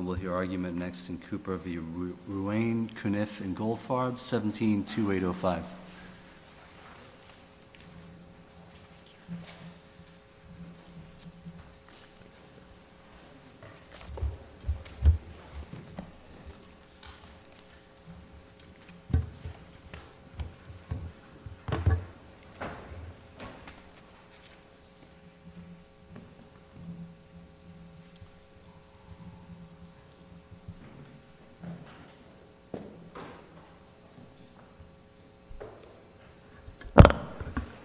We'll hear argument next in Cooper v. Ruane, Cuniff, and Goldfarb, 17-2805.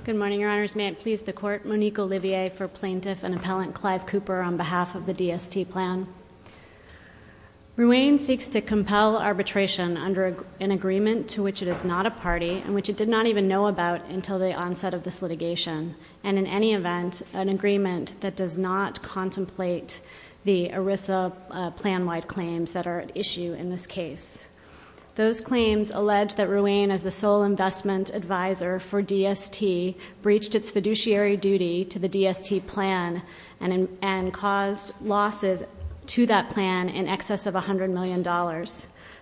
Good morning, Your Honors. May it please the Court, Monique Olivier for Plaintiff and Appellant Clive Cooper on behalf of the DST Plan. Ruane seeks to compel arbitration under an agreement to which it is not a party and which it did not even know about until the onset of this issue in this case. Those claims allege that Ruane, as the sole investment advisor for DST, breached its fiduciary duty to the DST Plan and caused losses to that plan in excess of $100 million.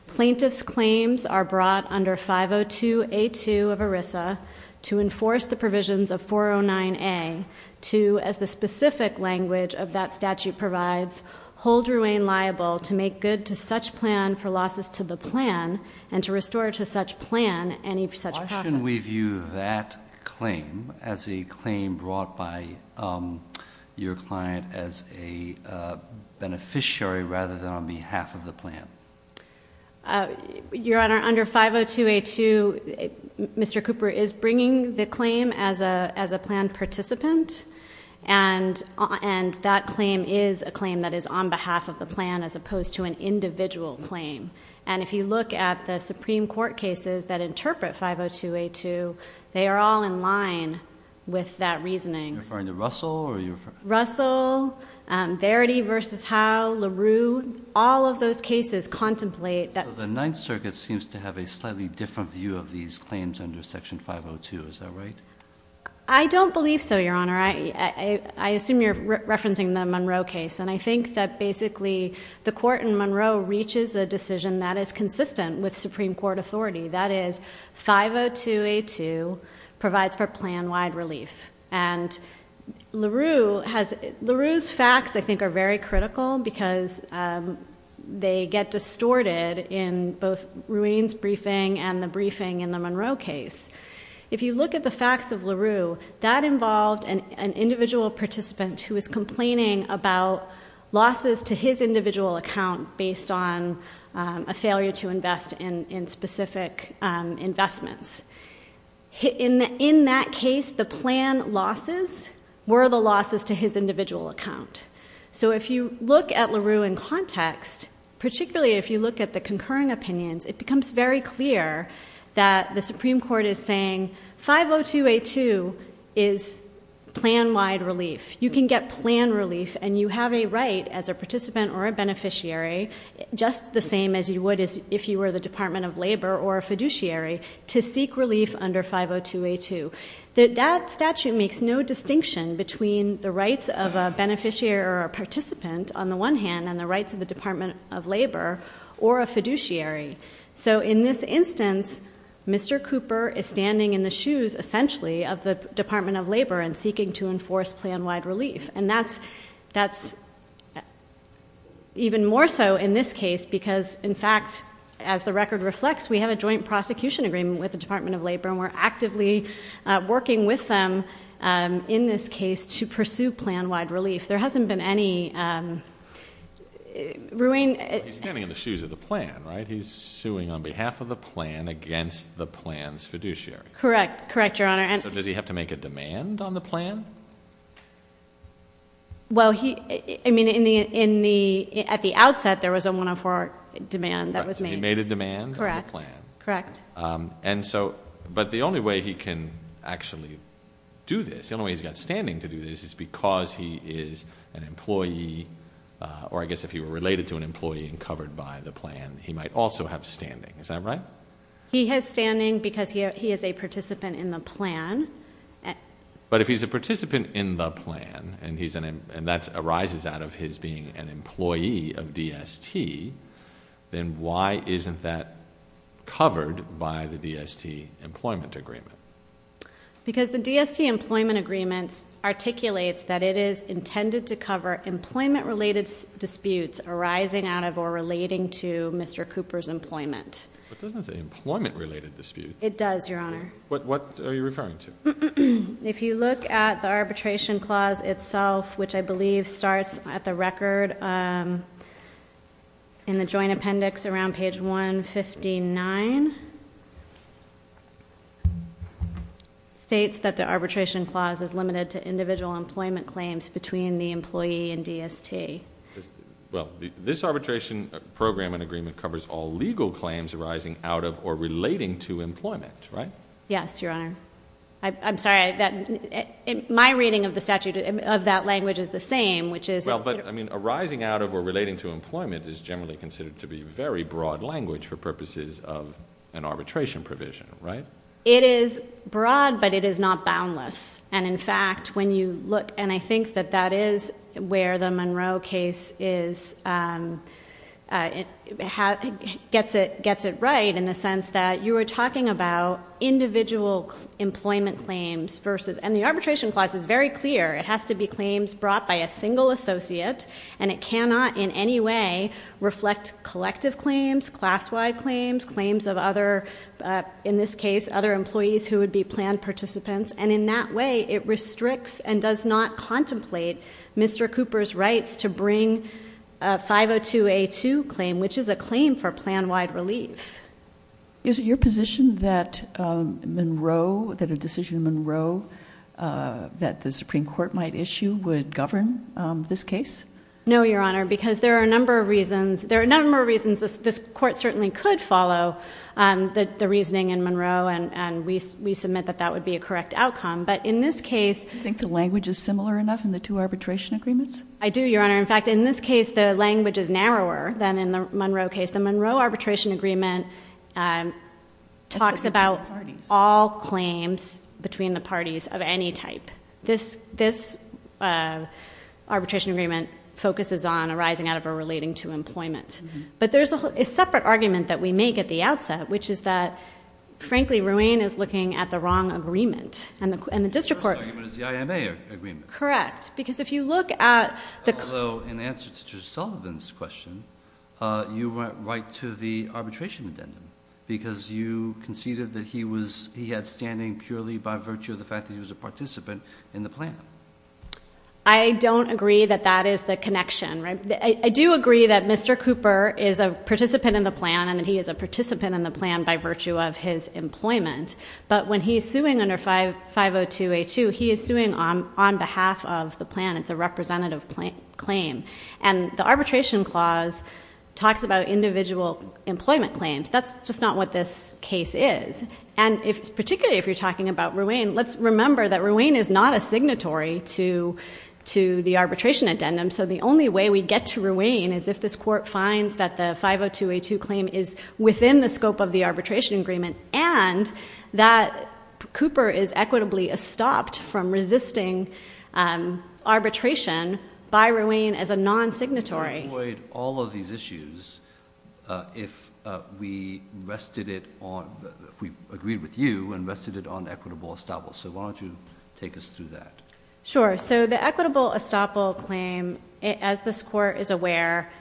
Plaintiff's claims are brought under 502A2 of ERISA to enforce the provisions of 409A to, as the specific language of that statute provides, hold Ruane liable to make good to such plan for losses to the plan and to restore to such plan any such profits. Why shouldn't we view that claim as a claim brought by your client as a beneficiary rather than on behalf of the plan? Your Honor, under 502A2, Mr. Cooper is bringing the claim as a plan participant and that claim is a claim that is on behalf of the plan as opposed to an individual claim. And if you look at the Supreme Court cases that interpret 502A2, they are all in line with that reasoning. Are you referring to Russell? Russell, Verity v. Howe, LaRue, all of those cases contemplate that... So the Ninth Circuit seems to have a slightly different view of these claims under Section 502, is that right? I don't believe so, Your Honor. I assume you're referencing the Monroe case. And I think that basically the court in Monroe reaches a decision that is consistent with Supreme Court authority. That is, 502A2 provides for plan-wide relief. And LaRue has... LaRue's facts, I think, are very critical because they get distorted in both Ruane's briefing and the briefing in the Monroe case. If you look at the facts of LaRue, that involved an individual participant who was complaining about losses to his individual account based on a failure to invest in specific investments. In that case, the plan losses were the losses to his individual account. So if you look at LaRue in context, particularly if you look at the concurring opinions, it becomes very clear that the Supreme Court is saying 502A2 is plan-wide relief. You can get plan relief and you have a right as a participant or a beneficiary, just the same as you would if you were the Department of Labor or a fiduciary, to seek relief under 502A2. That statute makes no distinction between the rights of a beneficiary or a participant on the one hand and the rights of the Department of Labor or a fiduciary. So in this instance, Mr. Cooper is standing in the shoes, essentially, of the Department of Labor and seeking to enforce plan-wide relief. And that's even more so in this case because, in fact, as the record reflects, we have a joint prosecution agreement with the Department of Labor and we're actively working with them in this case to pursue plan-wide relief. There hasn't been any ruin. He's standing in the shoes of the plan, right? He's suing on behalf of the plan against the plan's fiduciary. Correct. Correct, Your Honor. So does he have to make a demand on the plan? Well, I mean, at the outset, there was a 104 demand that was made. Correct. Correct. But the only way he can actually do this, the only way he's got standing to do this is because he is an employee, or I guess if he were related to an employee and covered by the plan, he might also have standing. Is that right? He has standing because he is a participant in the plan. But if he's a participant in the plan and that arises out of his being an employee of DST, then why isn't that covered by the DST employment agreement? Because the DST employment agreement articulates that it is intended to cover employment-related disputes arising out of or relating to Mr. Cooper's employment. It doesn't say employment-related disputes. It does, Your Honor. What are you referring to? If you look at the arbitration clause itself, which I believe starts at the record in the joint appendix around page 159, states that the arbitration clause is limited to individual employment claims between the employee and DST. Well, this arbitration program and agreement covers all legal claims arising out of or relating to employment, right? Yes, Your Honor. I'm sorry. My reading of the statute of that language is the same, which is... Well, but arising out of or relating to employment is generally considered to be very broad language for purposes of an arbitration provision, right? It is broad, but it is not boundless. And, in fact, when you look... and I think that that is where the Monroe case gets it right in the sense that you are talking about individual employment claims versus... And the arbitration clause is very clear. It has to be claims brought by a single associate and it cannot in any way reflect collective claims, class-wide claims, claims of other... employees who would be planned participants. And, in that way, it restricts and does not contemplate Mr. Cooper's rights to bring a 502A2 claim, which is a claim for plan-wide relief. Is it your position that Monroe... that a decision in Monroe that the Supreme Court might issue would govern this case? No, Your Honor, because there are a number of reasons. This Court certainly could follow the reasoning in Monroe and we submit that that would be a correct outcome. But, in this case... Do you think the language is similar enough in the two arbitration agreements? I do, Your Honor. In fact, in this case, the language is narrower than in the Monroe case. The Monroe arbitration agreement talks about all claims between the parties of any type. This arbitration agreement focuses on arising out of or relating to employment. But, there's a separate argument that we make at the outset, which is that, frankly, Ruane is looking at the wrong agreement. And, the district court... The first argument is the IMA agreement. Correct, because if you look at the... Although, in answer to Judge Sullivan's question, you went right to the arbitration addendum, because you conceded that he was... he had standing purely by virtue of the fact that he was a participant in the plan. I don't agree that that is the connection. I do agree that Mr. Cooper is a participant in the plan and that he is a participant in the plan by virtue of his employment. But, when he's suing under 502A2, he is suing on behalf of the plan. It's a representative claim. And, the arbitration clause talks about individual employment claims. That's just not what this case is. And, particularly if you're talking about Ruane, let's remember that Ruane is not a signatory to the arbitration addendum. So, the only way we get to Ruane is if this court finds that the 502A2 claim is within the scope of the arbitration agreement. And, that Cooper is equitably estopped from resisting arbitration by Ruane as a non-signatory. We would avoid all of these issues if we rested it on... if we agreed with you and rested it on equitable estoppel. So, why don't you take us through that? Sure. So, the equitable estoppel claim, as this court is aware,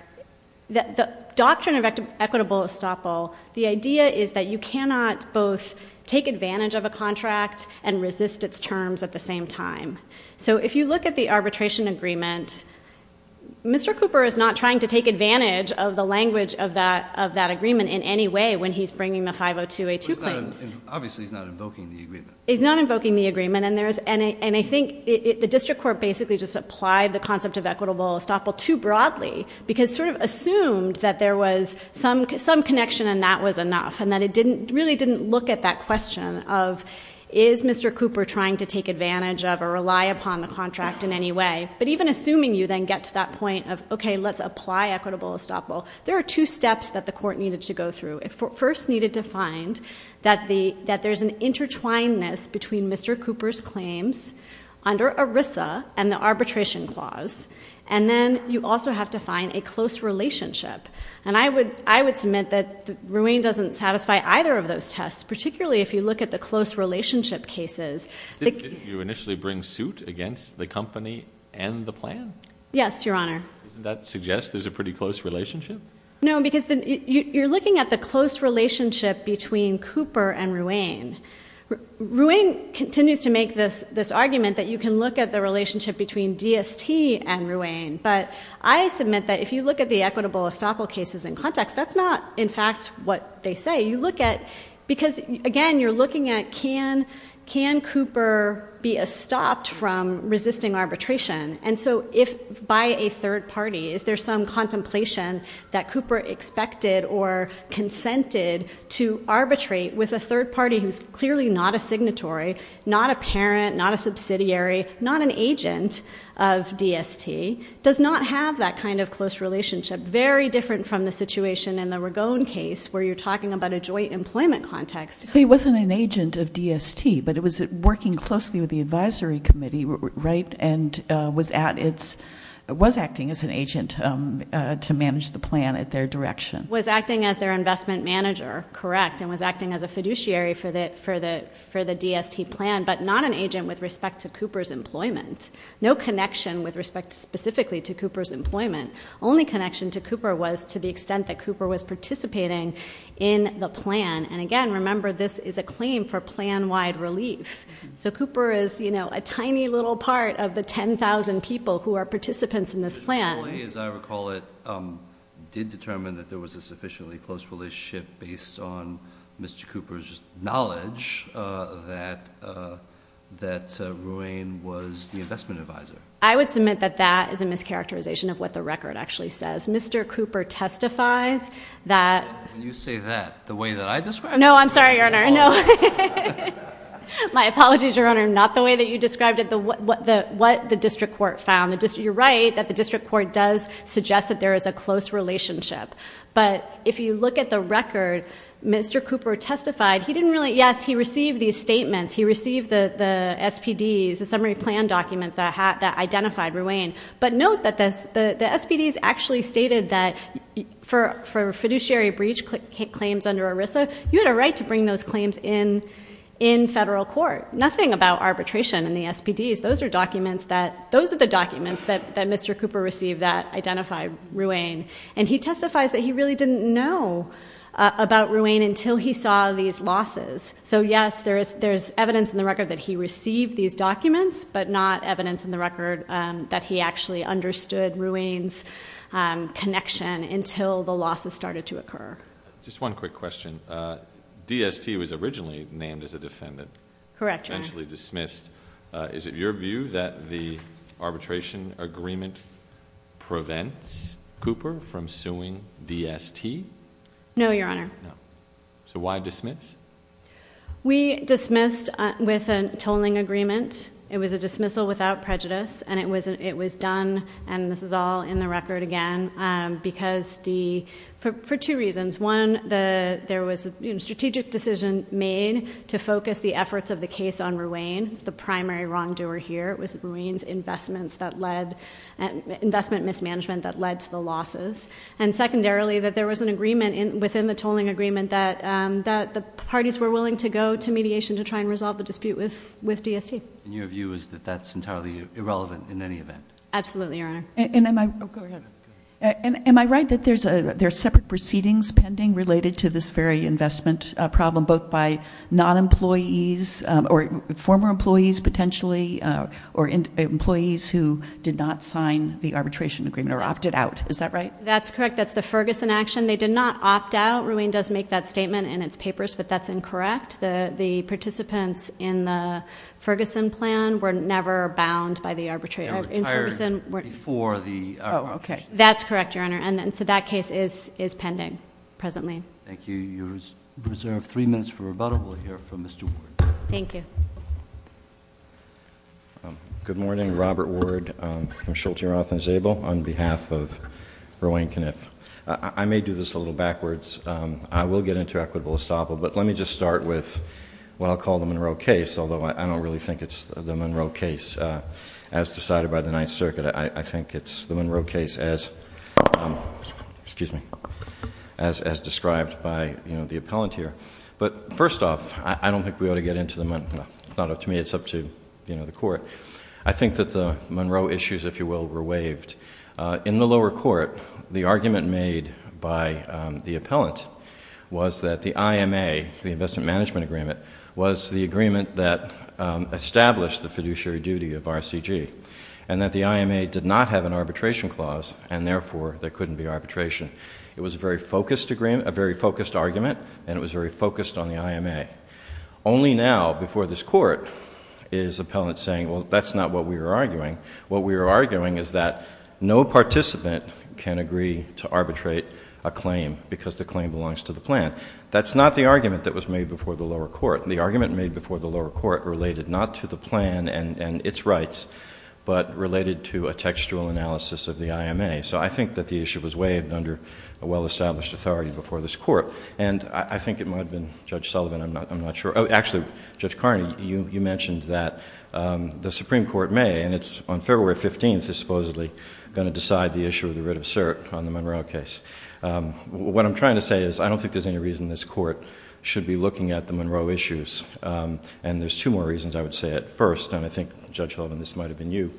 the doctrine of equitable estoppel, the idea is that you cannot both take advantage of a contract and resist its terms at the same time. So, if you look at the arbitration agreement, Mr. Cooper is not trying to take advantage of the language of that agreement in any way when he's bringing the 502A2 claims. Obviously, he's not invoking the agreement. And, I think the district court basically just applied the concept of equitable estoppel too broadly because it sort of assumed that there was some connection and that was enough. And, that it really didn't look at that question of, is Mr. Cooper trying to take advantage of or rely upon the contract in any way? But, even assuming you then get to that point of, okay, let's apply equitable estoppel, there are two steps that the court needed to go through. It first needed to find that there's an intertwinedness between Mr. Cooper's claims under ERISA and the arbitration clause. And then, you also have to find a close relationship. And, I would submit that Ruane doesn't satisfy either of those tests, particularly if you look at the close relationship cases. Didn't you initially bring suit against the company and the plan? Yes, Your Honor. Doesn't that suggest there's a pretty close relationship? No, because you're looking at the close relationship between Cooper and Ruane. Ruane continues to make this argument that you can look at the relationship between DST and Ruane. But, I submit that if you look at the equitable estoppel cases in context, that's not, in fact, what they say. You look at, because, again, you're looking at, can Cooper be estopped from resisting arbitration? And so, if by a third party, is there some contemplation that Cooper expected or consented to arbitrate with a third party who's clearly not a signatory, not a parent, not a subsidiary, not an agent of DST, does not have that kind of close relationship, very different from the situation in the Ragone case, where you're talking about a joint employment context. So he wasn't an agent of DST, but it was working closely with the advisory committee, right, and was acting as an agent to manage the plan at their direction. Was acting as their investment manager, correct, and was acting as a fiduciary for the DST plan, but not an agent with respect to Cooper's employment. No connection with respect specifically to Cooper's employment. Only connection to Cooper was to the extent that Cooper was participating in the plan. And again, remember, this is a claim for plan-wide relief. So Cooper is, you know, a tiny little part of the 10,000 people who are participants in this plan. As I recall it, did determine that there was a sufficiently close relationship based on Mr. Cooper's knowledge that Ruane was the investment advisor. I would submit that that is a mischaracterization of what the record actually says. Mr. Cooper testifies that- When you say that, the way that I describe it- No, I'm sorry, Your Honor. My apologies, Your Honor. Not the way that you described it, but what the district court found. You're right that the district court does suggest that there is a close relationship. But if you look at the record, Mr. Cooper testified. He didn't really-yes, he received these statements. He received the SPDs, the summary plan documents that identified Ruane. But note that the SPDs actually stated that for fiduciary breach claims under ERISA, you had a right to bring those claims in federal court. Nothing about arbitration in the SPDs. Those are documents that-those are the documents that Mr. Cooper received that identified Ruane. And he testifies that he really didn't know about Ruane until he saw these losses. So yes, there is evidence in the record that he received these documents. But not evidence in the record that he actually understood Ruane's connection until the losses started to occur. Just one quick question. DST was originally named as a defendant. Correct, Your Honor. Eventually dismissed. Is it your view that the arbitration agreement prevents Cooper from suing DST? No, Your Honor. No. So why dismiss? We dismissed with a tolling agreement. It was a dismissal without prejudice. And it was done, and this is all in the record again, because the-for two reasons. One, there was a strategic decision made to focus the efforts of the case on Ruane. It was the primary wrongdoer here. It was Ruane's investments that led-investment mismanagement that led to the losses. And secondarily, that there was an agreement within the tolling agreement that the parties were willing to go to mediation to try and resolve the dispute with DST. And your view is that that's entirely irrelevant in any event? Absolutely, Your Honor. And am I-oh, go ahead. Go ahead. Am I right that there's separate proceedings pending related to this very investment problem, both by non-employees or former employees, potentially, or employees who did not sign the arbitration agreement or opted out? Is that right? That's correct. That's the Ferguson action. They did not opt out. Ruane does make that statement in its papers, but that's incorrect. The participants in the Ferguson plan were never bound by the arbitration. They were retired before the arbitration. Oh, okay. That's correct, Your Honor. And so that case is pending presently. Thank you. You're reserved three minutes for rebuttal. We'll hear from Mr. Ward. Thank you. Good morning. Robert Ward. I'm Schulte, Roth, and Zabel on behalf of Ruane Kniff. I may do this a little backwards. I will get into equitable estoppel, but let me just start with what I'll call the Monroe case, although I don't really think it's the Monroe case as decided by the Ninth Circuit. I think it's the Monroe case as described by the appellant here. But first off, I don't think we ought to get into the Monroe. To me, it's up to the court. I think that the Monroe issues, if you will, were waived. In the lower court, the argument made by the appellant was that the IMA, the Investment Management Agreement, was the agreement that established the fiduciary duty of RCG and that the IMA did not have an arbitration clause and, therefore, there couldn't be arbitration. It was a very focused argument, and it was very focused on the IMA. Only now, before this court, is the appellant saying, well, that's not what we were arguing. What we were arguing is that no participant can agree to arbitrate a claim because the claim belongs to the plan. That's not the argument that was made before the lower court. The argument made before the lower court related not to the plan and its rights, but related to a textual analysis of the IMA. So I think that the issue was waived under a well-established authority before this court, and I think it might have been Judge Sullivan. I'm not sure. Actually, Judge Carney, you mentioned that the Supreme Court may, and it's on February 15th is supposedly going to decide the issue of the writ of cert on the Monroe case. What I'm trying to say is I don't think there's any reason this court should be looking at the Monroe issues, and there's two more reasons I would say at first, and I think, Judge Sullivan, this might have been you,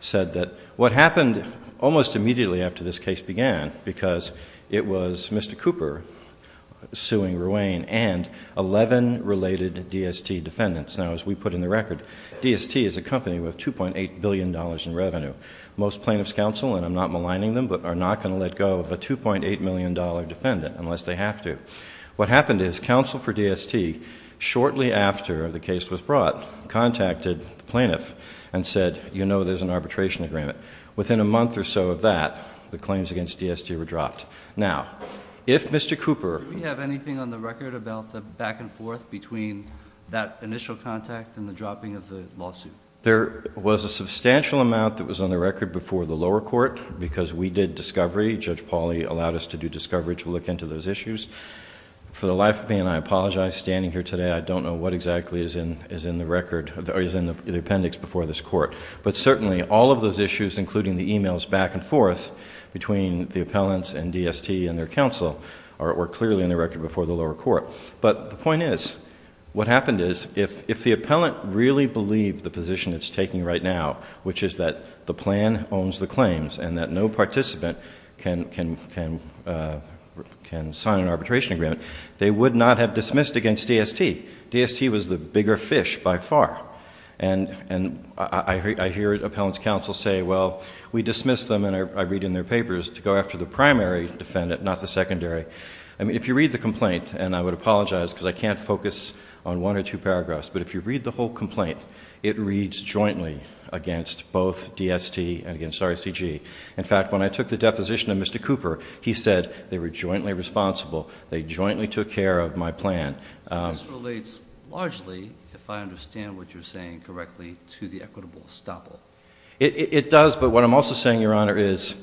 said that what happened almost immediately after this case began, because it was Mr. Cooper suing Ruane and 11 related DST defendants. Now, as we put in the record, DST is a company with $2.8 billion in revenue. Most plaintiffs' counsel, and I'm not maligning them, but are not going to let go of a $2.8 million defendant unless they have to. What happened is counsel for DST, shortly after the case was brought, contacted the plaintiff and said, you know there's an arbitration agreement. Within a month or so of that, the claims against DST were dropped. Now, if Mr. Cooper- Do we have anything on the record about the back and forth between that initial contact and the dropping of the lawsuit? There was a substantial amount that was on the record before the lower court, because we did discovery. Judge Pauley allowed us to do discovery to look into those issues. For the life of me, and I apologize standing here today, I don't know what exactly is in the record or is in the appendix before this court. But certainly, all of those issues, including the emails back and forth between the appellants and DST and their counsel, are clearly in the record before the lower court. But the point is, what happened is, if the appellant really believed the position it's taking right now, which is that the plan owns the claims and that no participant can sign an arbitration agreement, they would not have dismissed against DST. DST was the bigger fish by far. And I hear appellants' counsel say, well, we dismissed them, and I read in their papers, to go after the primary defendant, not the secondary. I mean, if you read the complaint, and I would apologize because I can't focus on one or two paragraphs, but if you read the whole complaint, it reads jointly against both DST and against RCG. In fact, when I took the deposition of Mr. Cooper, he said they were jointly responsible, they jointly took care of my plan. This relates largely, if I understand what you're saying correctly, to the equitable estoppel. It does, but what I'm also saying, Your Honor, is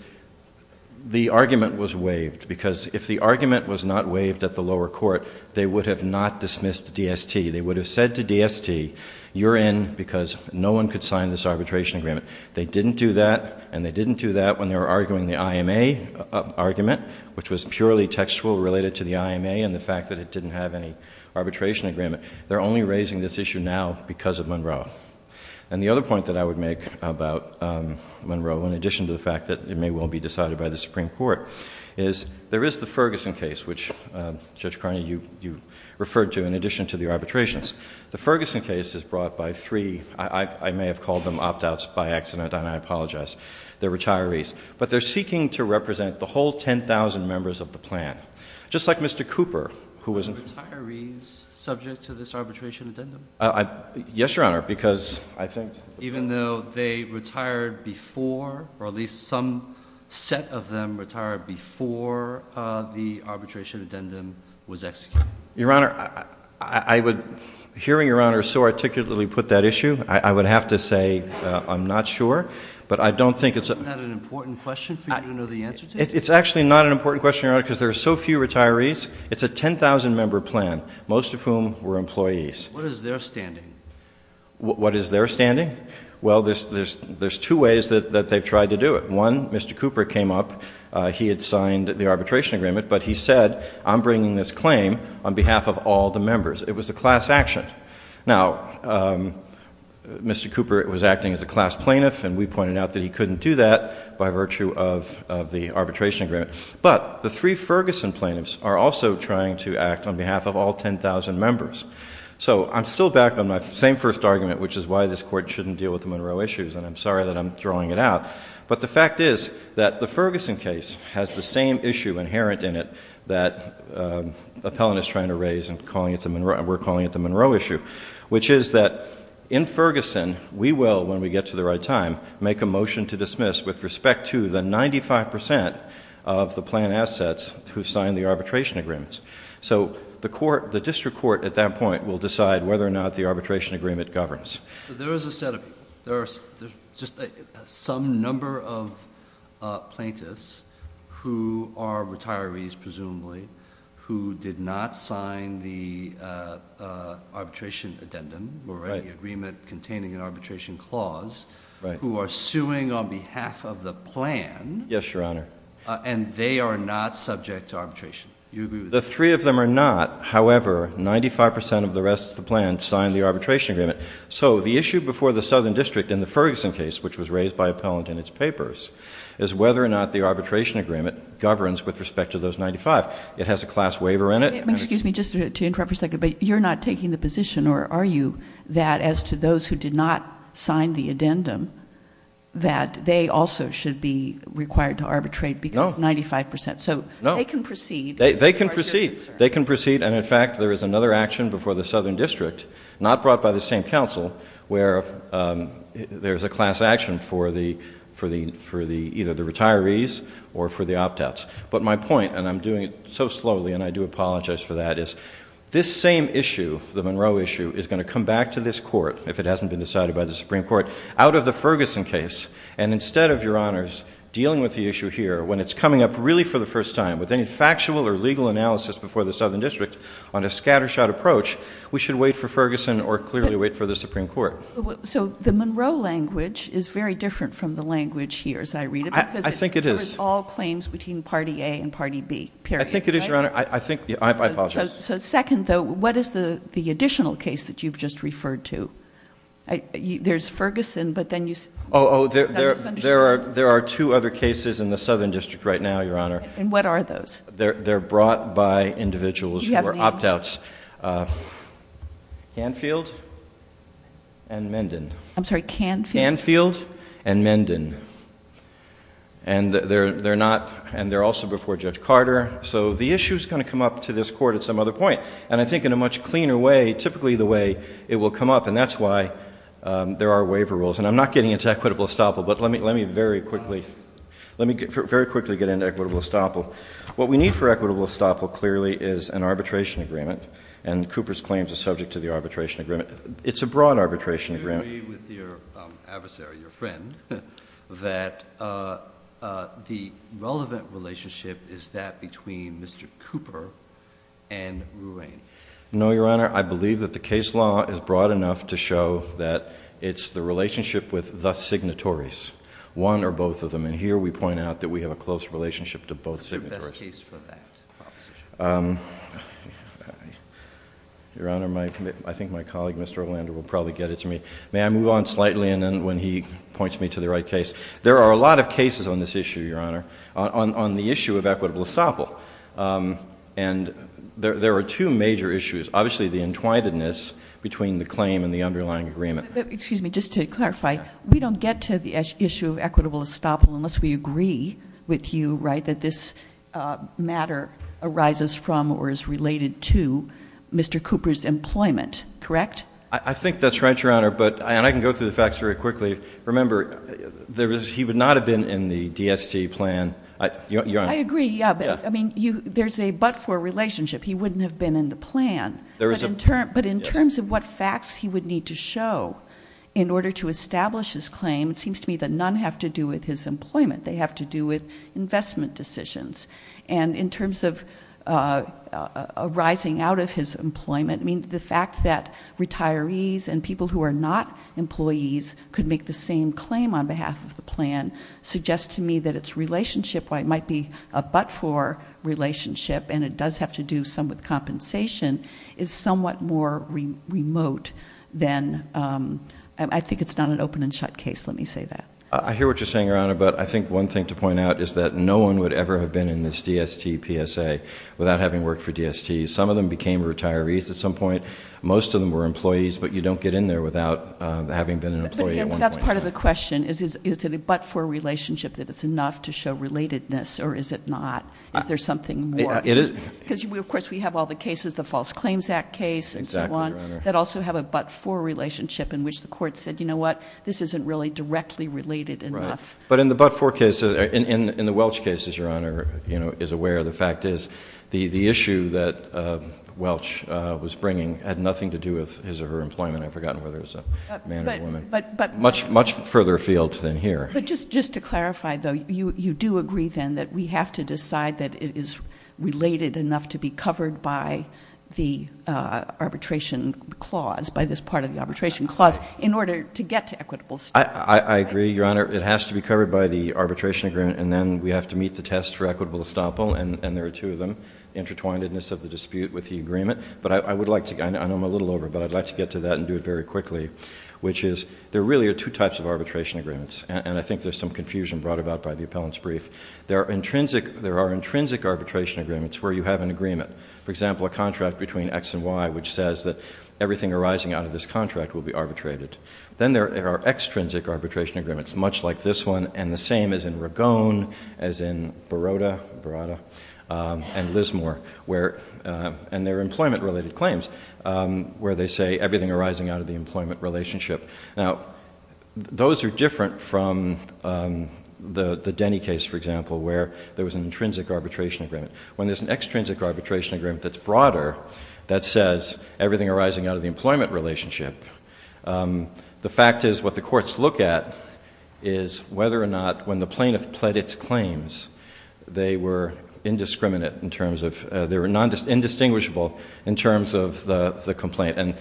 the argument was waived, because if the argument was not waived at the lower court, they would have not dismissed DST. They would have said to DST, you're in because no one could sign this arbitration agreement. They didn't do that, and they didn't do that when they were arguing the IMA argument, which was purely textual related to the IMA and the fact that it didn't have any arbitration agreement. They're only raising this issue now because of Monroe. And the other point that I would make about Monroe, in addition to the fact that it may well be decided by the Supreme Court, is there is the Ferguson case, which, Judge Carney, you referred to, in addition to the arbitrations. The Ferguson case is brought by three, I may have called them opt-outs by accident, and I apologize, the retirees. But they're seeking to represent the whole 10,000 members of the plan, just like Mr. Cooper, who was- Are the retirees subject to this arbitration addendum? Yes, Your Honor, because I think- before the arbitration addendum was executed. Your Honor, I would- hearing Your Honor so articulately put that issue, I would have to say I'm not sure, but I don't think it's- Isn't that an important question for you to know the answer to? It's actually not an important question, Your Honor, because there are so few retirees. It's a 10,000-member plan, most of whom were employees. What is their standing? What is their standing? Well, there's two ways that they've tried to do it. One, Mr. Cooper came up. He had signed the arbitration agreement, but he said, I'm bringing this claim on behalf of all the members. It was a class action. Now, Mr. Cooper was acting as a class plaintiff, and we pointed out that he couldn't do that by virtue of the arbitration agreement. But the three Ferguson plaintiffs are also trying to act on behalf of all 10,000 members. So I'm still back on my same first argument, which is why this Court shouldn't deal with the Monroe issues, and I'm sorry that I'm throwing it out. But the fact is that the Ferguson case has the same issue inherent in it that Appellant is trying to raise, and we're calling it the Monroe issue, which is that in Ferguson, we will, when we get to the right time, make a motion to dismiss with respect to the 95 percent of the plan assets who signed the arbitration agreements. So the District Court at that point will decide whether or not the arbitration agreement governs. But there is a set of people. There are just some number of plaintiffs who are retirees, presumably, who did not sign the arbitration addendum or any agreement containing an arbitration clause who are suing on behalf of the plan. Yes, Your Honor. And they are not subject to arbitration. Do you agree with that? The three of them are not. However, 95 percent of the rest of the plan signed the arbitration agreement. So the issue before the Southern District in the Ferguson case, which was raised by Appellant in its papers, is whether or not the arbitration agreement governs with respect to those 95. It has a class waiver in it. Excuse me, just to interrupt for a second, but you're not taking the position, or are you, that as to those who did not sign the addendum, that they also should be required to arbitrate because 95 percent. No. So they can proceed. They can proceed. They can proceed. And, in fact, there is another action before the Southern District, not brought by the same counsel, where there is a class action for either the retirees or for the opt-outs. But my point, and I'm doing it so slowly and I do apologize for that, is this same issue, the Monroe issue, is going to come back to this court, if it hasn't been decided by the Supreme Court, out of the Ferguson case. And instead of, Your Honors, dealing with the issue here, when it's coming up really for the first time, with any factual or legal analysis before the Southern District, on a scattershot approach, we should wait for Ferguson or clearly wait for the Supreme Court. So the Monroe language is very different from the language here, as I read it. I think it is. Because it covers all claims between Party A and Party B, period. I think it is, Your Honor. I apologize. So, second, though, what is the additional case that you've just referred to? There's Ferguson, but then you say— Oh, there are two other cases in the Southern District right now, Your Honor. And what are those? They're brought by individuals who are opt-outs. Do you have names? Canfield and Menden. I'm sorry, Canfield? Canfield and Menden. And they're also before Judge Carter. So the issue is going to come up to this court at some other point. And I think in a much cleaner way, typically the way it will come up. And that's why there are waiver rules. And I'm not getting into equitable estoppel, but let me very quickly get into equitable estoppel. What we need for equitable estoppel, clearly, is an arbitration agreement. And Cooper's claims are subject to the arbitration agreement. It's a broad arbitration agreement. Do you agree with your adversary, your friend, that the relevant relationship is that between Mr. Cooper and Ruane? No, Your Honor. I believe that the case law is broad enough to show that it's the relationship with the signatories, one or both of them. And here we point out that we have a close relationship to both signatories. What's the best case for that proposition? Your Honor, I think my colleague, Mr. Orlando, will probably get it to me. May I move on slightly and then when he points me to the right case? There are a lot of cases on this issue, Your Honor, on the issue of equitable estoppel. And there are two major issues. Obviously, the entwinedness between the claim and the underlying agreement. Excuse me. Just to clarify, we don't get to the issue of equitable estoppel unless we agree with you, right, that this matter arises from or is related to Mr. Cooper's employment, correct? I think that's right, Your Honor. And I can go through the facts very quickly. Remember, he would not have been in the DST plan. I agree, yeah. But, I mean, there's a but for relationship. He wouldn't have been in the plan. But in terms of what facts he would need to show in order to establish his claim, it seems to me that none have to do with his employment. They have to do with investment decisions. And in terms of arising out of his employment, the fact that retirees and people who are not employees could make the same claim on behalf of the plan suggests to me that its relationship might be a but for relationship, and it does have to do somewhat with compensation, is somewhat more remote than, I think it's not an open and shut case, let me say that. I hear what you're saying, Your Honor, but I think one thing to point out is that no one would ever have been in this DST PSA without having worked for DST. Some of them became retirees at some point. Most of them were employees. That's part of the question. Is it a but for relationship that it's enough to show relatedness, or is it not? Is there something more? Because, of course, we have all the cases, the False Claims Act case and so on, that also have a but for relationship in which the court said, you know what, this isn't really directly related enough. But in the but for case, in the Welch case, as Your Honor is aware, the fact is the issue that Welch was bringing had nothing to do with his or her employment. I've forgotten whether it was a man or a woman. Much further afield than here. But just to clarify, though, you do agree, then, that we have to decide that it is related enough to be covered by the arbitration clause, by this part of the arbitration clause, in order to get to equitable estoppel. I agree, Your Honor. It has to be covered by the arbitration agreement, and then we have to meet the test for equitable estoppel, and there are two of them, intertwinedness of the dispute with the agreement. But I would like to, I know I'm a little over, but I'd like to get to that and do it very quickly, which is there really are two types of arbitration agreements, and I think there's some confusion brought about by the appellant's brief. There are intrinsic arbitration agreements where you have an agreement. For example, a contract between X and Y, which says that everything arising out of this contract will be arbitrated. Then there are extrinsic arbitration agreements, much like this one, and the same as in Ragone, as in Baroda, and Lismore, and their employment-related claims, where they say everything arising out of the employment relationship. Now, those are different from the Denny case, for example, where there was an intrinsic arbitration agreement. When there's an extrinsic arbitration agreement that's broader, that says everything arising out of the employment relationship, the fact is what the courts look at is whether or not, when the plaintiff pled its claims, they were indistinguishable in terms of the complaint.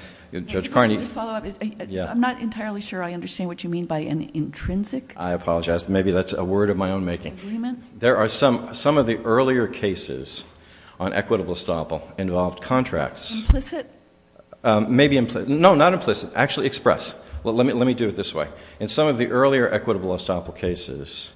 Judge Carney? I'm not entirely sure I understand what you mean by an intrinsic agreement. I apologize. Maybe that's a word of my own making. There are some of the earlier cases on equitable estoppel involved contracts. Implicit? No, not implicit. Actually express. Let me do it this way. In some of the earlier equitable estoppel cases,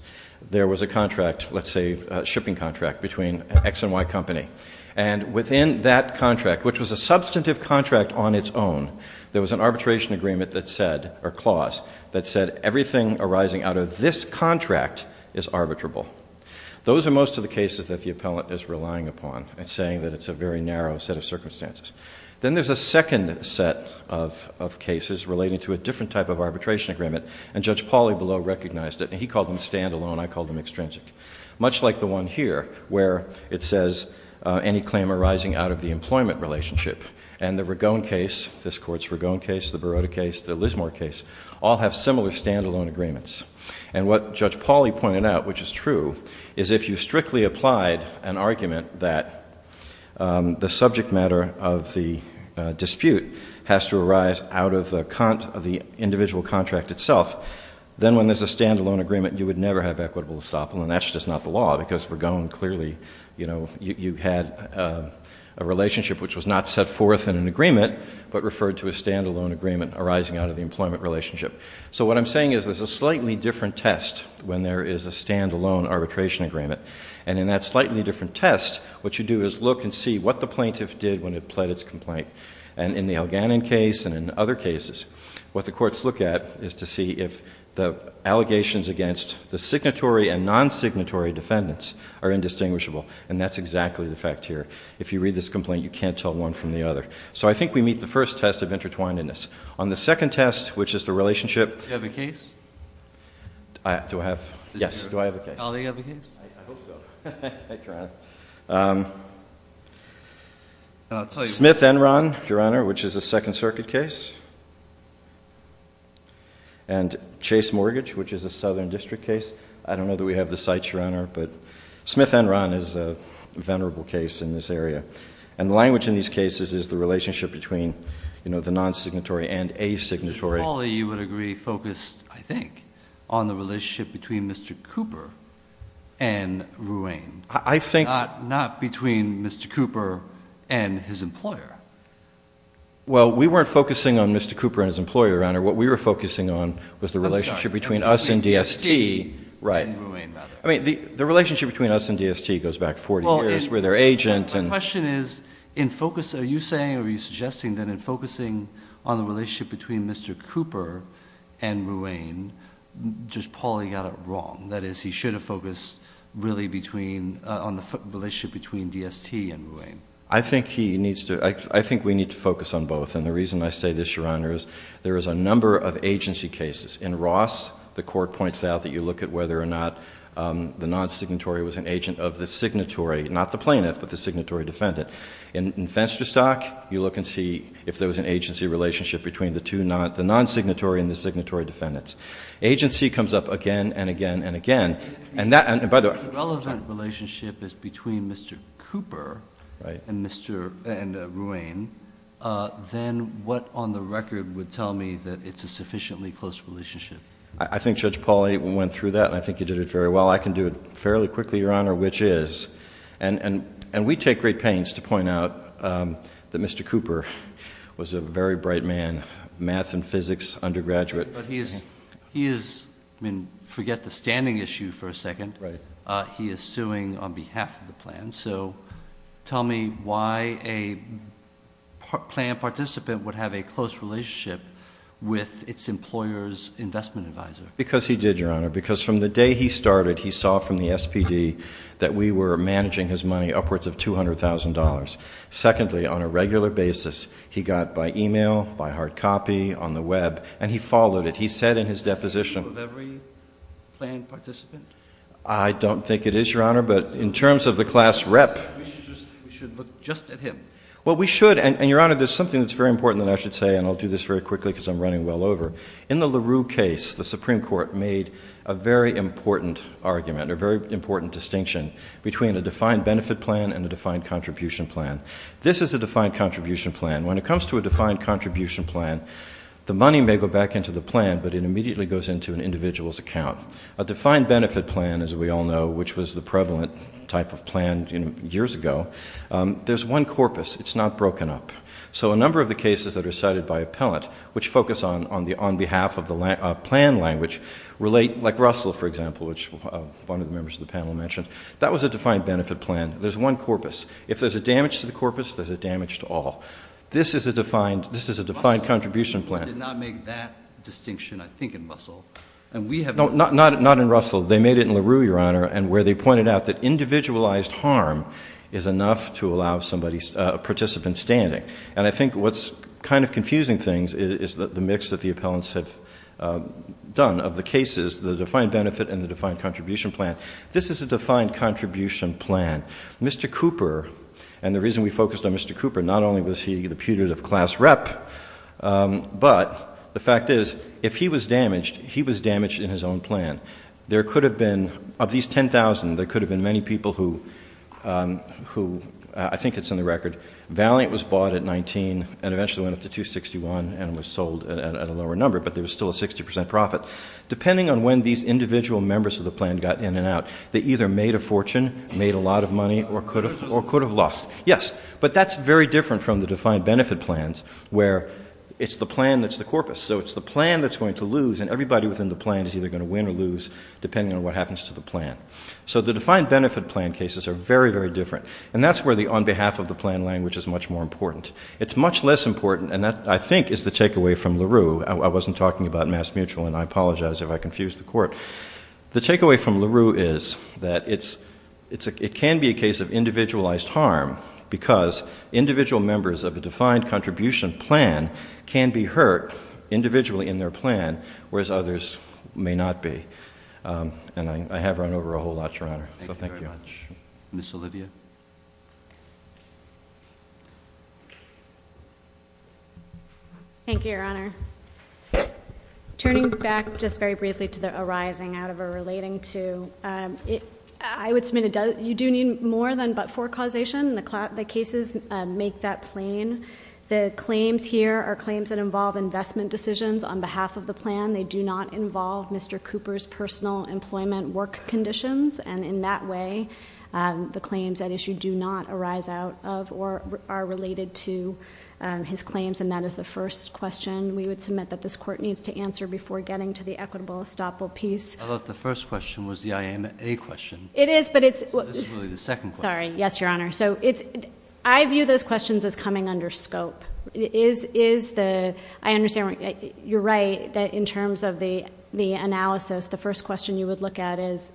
there was a contract, let's say a shipping contract, between X and Y company, and within that contract, which was a substantive contract on its own, there was an arbitration agreement that said, or clause, that said everything arising out of this contract is arbitrable. Those are most of the cases that the appellant is relying upon and saying that it's a very narrow set of circumstances. Then there's a second set of cases relating to a different type of arbitration agreement, and Judge Pauly below recognized it, and he called them stand-alone, I called them extrinsic. Much like the one here, where it says, any claim arising out of the employment relationship. And the Ragone case, this Court's Ragone case, the Barotta case, the Lismore case, all have similar stand-alone agreements. And what Judge Pauly pointed out, which is true, is if you strictly applied an argument that the subject matter of the dispute has to arise out of the individual contract itself, then when there's a stand-alone agreement, you would never have equitable estoppel, and that's just not the law, because Ragone clearly, you know, you had a relationship which was not set forth in an agreement, but referred to as stand-alone agreement arising out of the employment relationship. So what I'm saying is there's a slightly different test when there is a stand-alone arbitration agreement. And in that slightly different test, what you do is look and see what the plaintiff did when it pled its complaint, and in the Elganan case and in other cases, what the courts look at is to see if the allegations against the signatory and non-signatory defendants are indistinguishable, and that's exactly the fact here. If you read this complaint, you can't tell one from the other. So I think we meet the first test of intertwinedness. On the second test, which is the relationship... Do you have a case? Do I have? Yes, do I have a case? Oh, do you have a case? I hope so. Thank you, Your Honor. Smith-Enron, Your Honor, which is a Second Circuit case. And Chase Mortgage, which is a Southern District case. I don't know that we have the sites, Your Honor, but Smith-Enron is a venerable case in this area. And the language in these cases is the relationship between, you know, the non-signatory and a signatory. Mr. Hawley, you would agree, focused, I think, on the relationship between Mr. Cooper and Ruane. I think... Not between Mr. Cooper and his employer. Well, we weren't focusing on Mr. Cooper and his employer, Your Honor. What we were focusing on was the relationship between us and DST. I'm sorry, between DST and Ruane, rather. Right. I mean, the relationship between us and DST goes back 40 years. We're their agent and... My question is, in focus, are you saying or are you suggesting that in focusing on the relationship between Mr. Cooper and Ruane, just Paulie got it wrong? That is, he should have focused really on the relationship between DST and Ruane. I think we need to focus on both, and the reason I say this, Your Honor, is there is a number of agency cases. In Ross, the court points out that you look at whether or not the non-signatory was an agent of the signatory, not the plaintiff, but the signatory defendant. In Fensterstock, you look and see if there was an agency relationship between the non-signatory and the signatory defendants. Agency comes up again and again and again. If the relevant relationship is between Mr. Cooper and Ruane, then what on the record would tell me that it's a sufficiently close relationship? I think Judge Paulie went through that, and I think he did it very well. I can do it fairly quickly, Your Honor, which is, and we take great pains to point out that Mr. Cooper was a very bright man, math and physics undergraduate. But he is, I mean, forget the standing issue for a second. Right. He is suing on behalf of the plan, so tell me why a plan participant would have a close relationship with its employer's investment advisor. Because he did, Your Honor, because from the day he started, he saw from the SPD that we were managing his money upwards of $200,000. Secondly, on a regular basis, he got by e-mail, by hard copy, on the Web, and he followed it. He said in his deposition of every plan participant. I don't think it is, Your Honor, but in terms of the class rep. We should look just at him. Well, we should, and, Your Honor, there's something that's very important that I should say, and I'll do this very quickly because I'm running well over. In the LaRue case, the Supreme Court made a very important argument, a very important distinction between a defined benefit plan and a defined contribution plan. This is a defined contribution plan. When it comes to a defined contribution plan, the money may go back into the plan, but it immediately goes into an individual's account. A defined benefit plan, as we all know, which was the prevalent type of plan years ago, there's one corpus. It's not broken up. So a number of the cases that are cited by appellant, which focus on behalf of the plan language, relate. Like Russell, for example, which one of the members of the panel mentioned, that was a defined benefit plan. There's one corpus. If there's a damage to the corpus, there's a damage to all. This is a defined contribution plan. Russell did not make that distinction, I think, in Russell. No, not in Russell. They made it in LaRue, Your Honor, where they pointed out that individualized harm is enough to allow a participant standing. And I think what's kind of confusing things is the mix that the appellants have done of the cases, the defined benefit and the defined contribution plan. This is a defined contribution plan. Mr. Cooper, and the reason we focused on Mr. Cooper, not only was he the putative class rep, but the fact is, if he was damaged, he was damaged in his own plan. There could have been, of these 10,000, there could have been many people who, I think it's in the record, valiant was bought at 19 and eventually went up to 261 and was sold at a lower number, but there was still a 60% profit. Depending on when these individual members of the plan got in and out, they either made a fortune, made a lot of money, or could have lost. Yes, but that's very different from the defined benefit plans, where it's the plan that's the corpus. So it's the plan that's going to lose, and everybody within the plan is either going to win or lose, depending on what happens to the plan. So the defined benefit plan cases are very, very different, and that's where the on-behalf-of-the-plan language is much more important. It's much less important, and that, I think, is the takeaway from LaRue. I wasn't talking about MassMutual, and I apologize if I confused the Court. The takeaway from LaRue is that it can be a case of individualized harm because individual members of a defined contribution plan can be hurt individually in their plan, whereas others may not be. And I have run over a whole lot, Your Honor, so thank you very much. Ms. Olivia. Thank you, Your Honor. Turning back just very briefly to the arising out of or relating to, I would submit you do need more than but-for causation. The cases make that plain. The claims here are claims that involve investment decisions on behalf of the plan. They do not involve Mr. Cooper's personal employment work conditions, and in that way the claims at issue do not arise out of or are related to his claims, and that is the first question we would submit that this Court needs to answer before getting to the equitable estoppel piece. I thought the first question was the IAA question. It is, but it's— This is really the second question. Sorry. Yes, Your Honor. I view those questions as coming under scope. I understand you're right that in terms of the analysis, the first question you would look at is,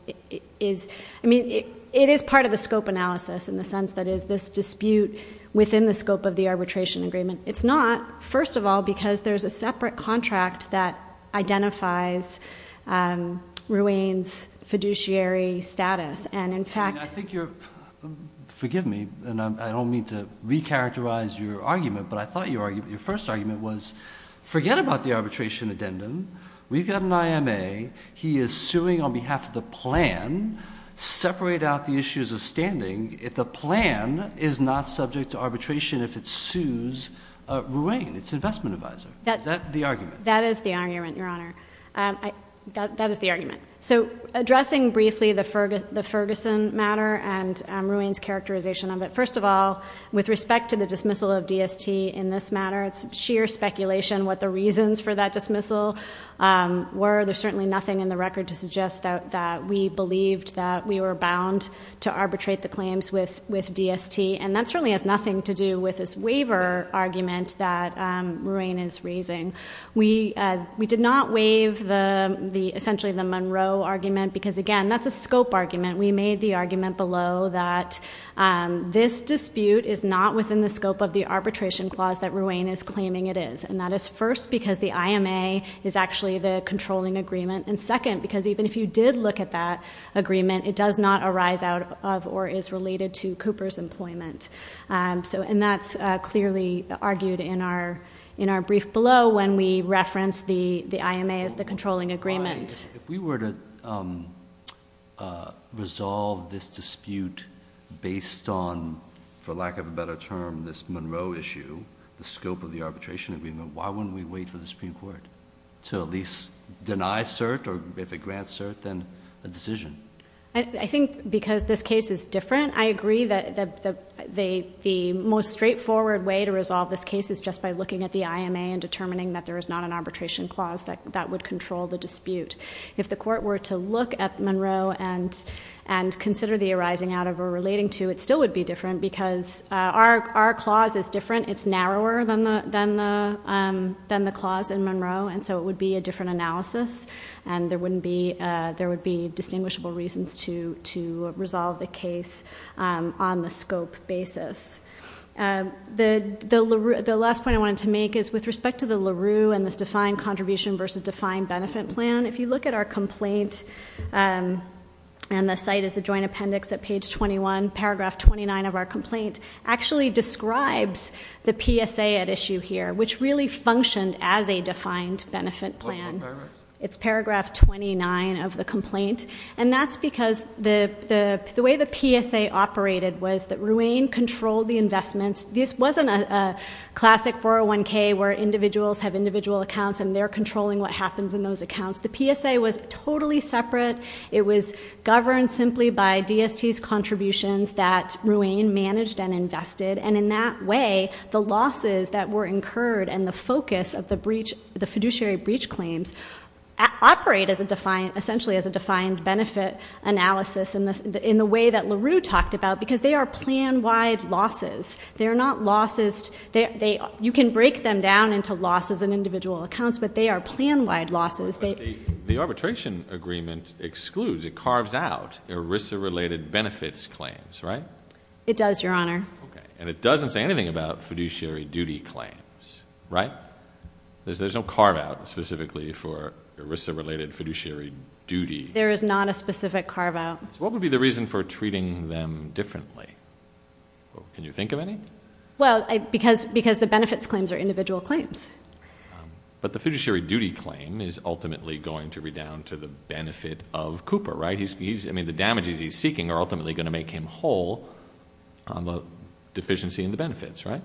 I mean, it is part of the scope analysis in the sense that it is this dispute within the scope of the arbitration agreement. It's not, first of all, because there's a separate contract that identifies Ruane's fiduciary status, and in fact— I think you're—forgive me, and I don't mean to recharacterize your argument, but I thought your first argument was forget about the arbitration addendum. We've got an IMA. He is suing on behalf of the plan. Separate out the issues of standing. The plan is not subject to arbitration if it sues Ruane, its investment advisor. Is that the argument? That is the argument, Your Honor. That is the argument. So addressing briefly the Ferguson matter and Ruane's characterization of it, first of all, with respect to the dismissal of DST in this matter, it's sheer speculation what the reasons for that dismissal were. There's certainly nothing in the record to suggest that we believed that we were bound to arbitrate the claims with DST, and that certainly has nothing to do with this waiver argument that Ruane is raising. We did not waive essentially the Monroe argument because, again, that's a scope argument. We made the argument below that this dispute is not within the scope of the arbitration clause that Ruane is claiming it is, and that is first because the IMA is actually the controlling agreement, and second because even if you did look at that agreement, it does not arise out of or is related to Cooper's employment. And that's clearly argued in our brief below when we reference the IMA as the controlling agreement. If we were to resolve this dispute based on, for lack of a better term, this Monroe issue, the scope of the arbitration agreement, why wouldn't we wait for the Supreme Court to at least deny cert, or if it grants cert, then a decision? I think because this case is different. I agree that the most straightforward way to resolve this case is just by looking at the IMA and determining that there is not an arbitration clause that would control the dispute. If the court were to look at Monroe and consider the arising out of or relating to, it still would be different because our clause is different. It's narrower than the clause in Monroe, and so it would be a different analysis, and there would be distinguishable reasons to resolve the case on the scope basis. The last point I wanted to make is with respect to the LaRue and this defined contribution versus defined benefit plan, if you look at our complaint, and the site is the joint appendix at page 21, paragraph 29 of our complaint, actually describes the PSA at issue here, which really functioned as a defined benefit plan. It's paragraph 29 of the complaint, and that's because the way the PSA operated was that Ruane controlled the investments. This wasn't a classic 401K where individuals have individual accounts and they're controlling what happens in those accounts. The PSA was totally separate. It was governed simply by DST's contributions that Ruane managed and invested, and in that way the losses that were incurred and the focus of the fiduciary breach claims operate essentially as a defined benefit analysis in the way that LaRue talked about because they are plan-wide losses. You can break them down into losses in individual accounts, but they are plan-wide losses. The arbitration agreement excludes, it carves out, ERISA-related benefits claims, right? It does, Your Honor. Okay, and it doesn't say anything about fiduciary duty claims, right? There's no carve-out specifically for ERISA-related fiduciary duty. There is not a specific carve-out. What would be the reason for treating them differently? Can you think of any? Well, because the benefits claims are individual claims. But the fiduciary duty claim is ultimately going to be down to the benefit of Cooper, right? I mean, the damages he's seeking are ultimately going to make him whole on the deficiency in the benefits, right?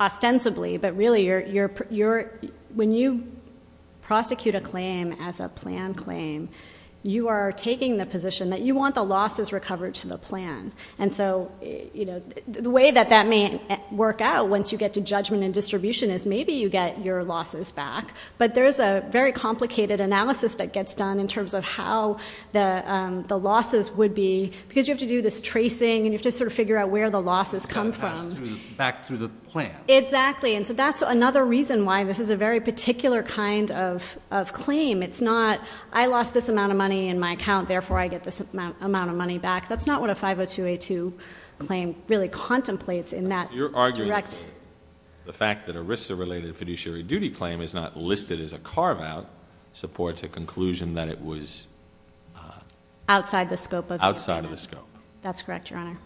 Ostensibly, but really when you prosecute a claim as a plan claim, you are taking the position that you want the losses recovered to the plan. And so the way that that may work out once you get to judgment and distribution is maybe you get your losses back, but there's a very complicated analysis that gets done in terms of how the losses would be because you have to do this tracing and you have to sort of figure out where the losses come from. Back through the plan. Exactly, and so that's another reason why this is a very particular kind of claim. It's not, I lost this amount of money in my account, therefore I get this amount of money back. That's not what a 502A2 claim really contemplates in that direct. You're arguing the fact that an ERISA-related fiduciary duty claim is not listed as a carve-out supports a conclusion that it was outside of the scope. Outside of the scope. That's correct, Your Honor.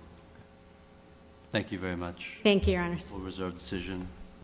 Thank you very much. Thank you, Your Honors. We'll reserve the decision.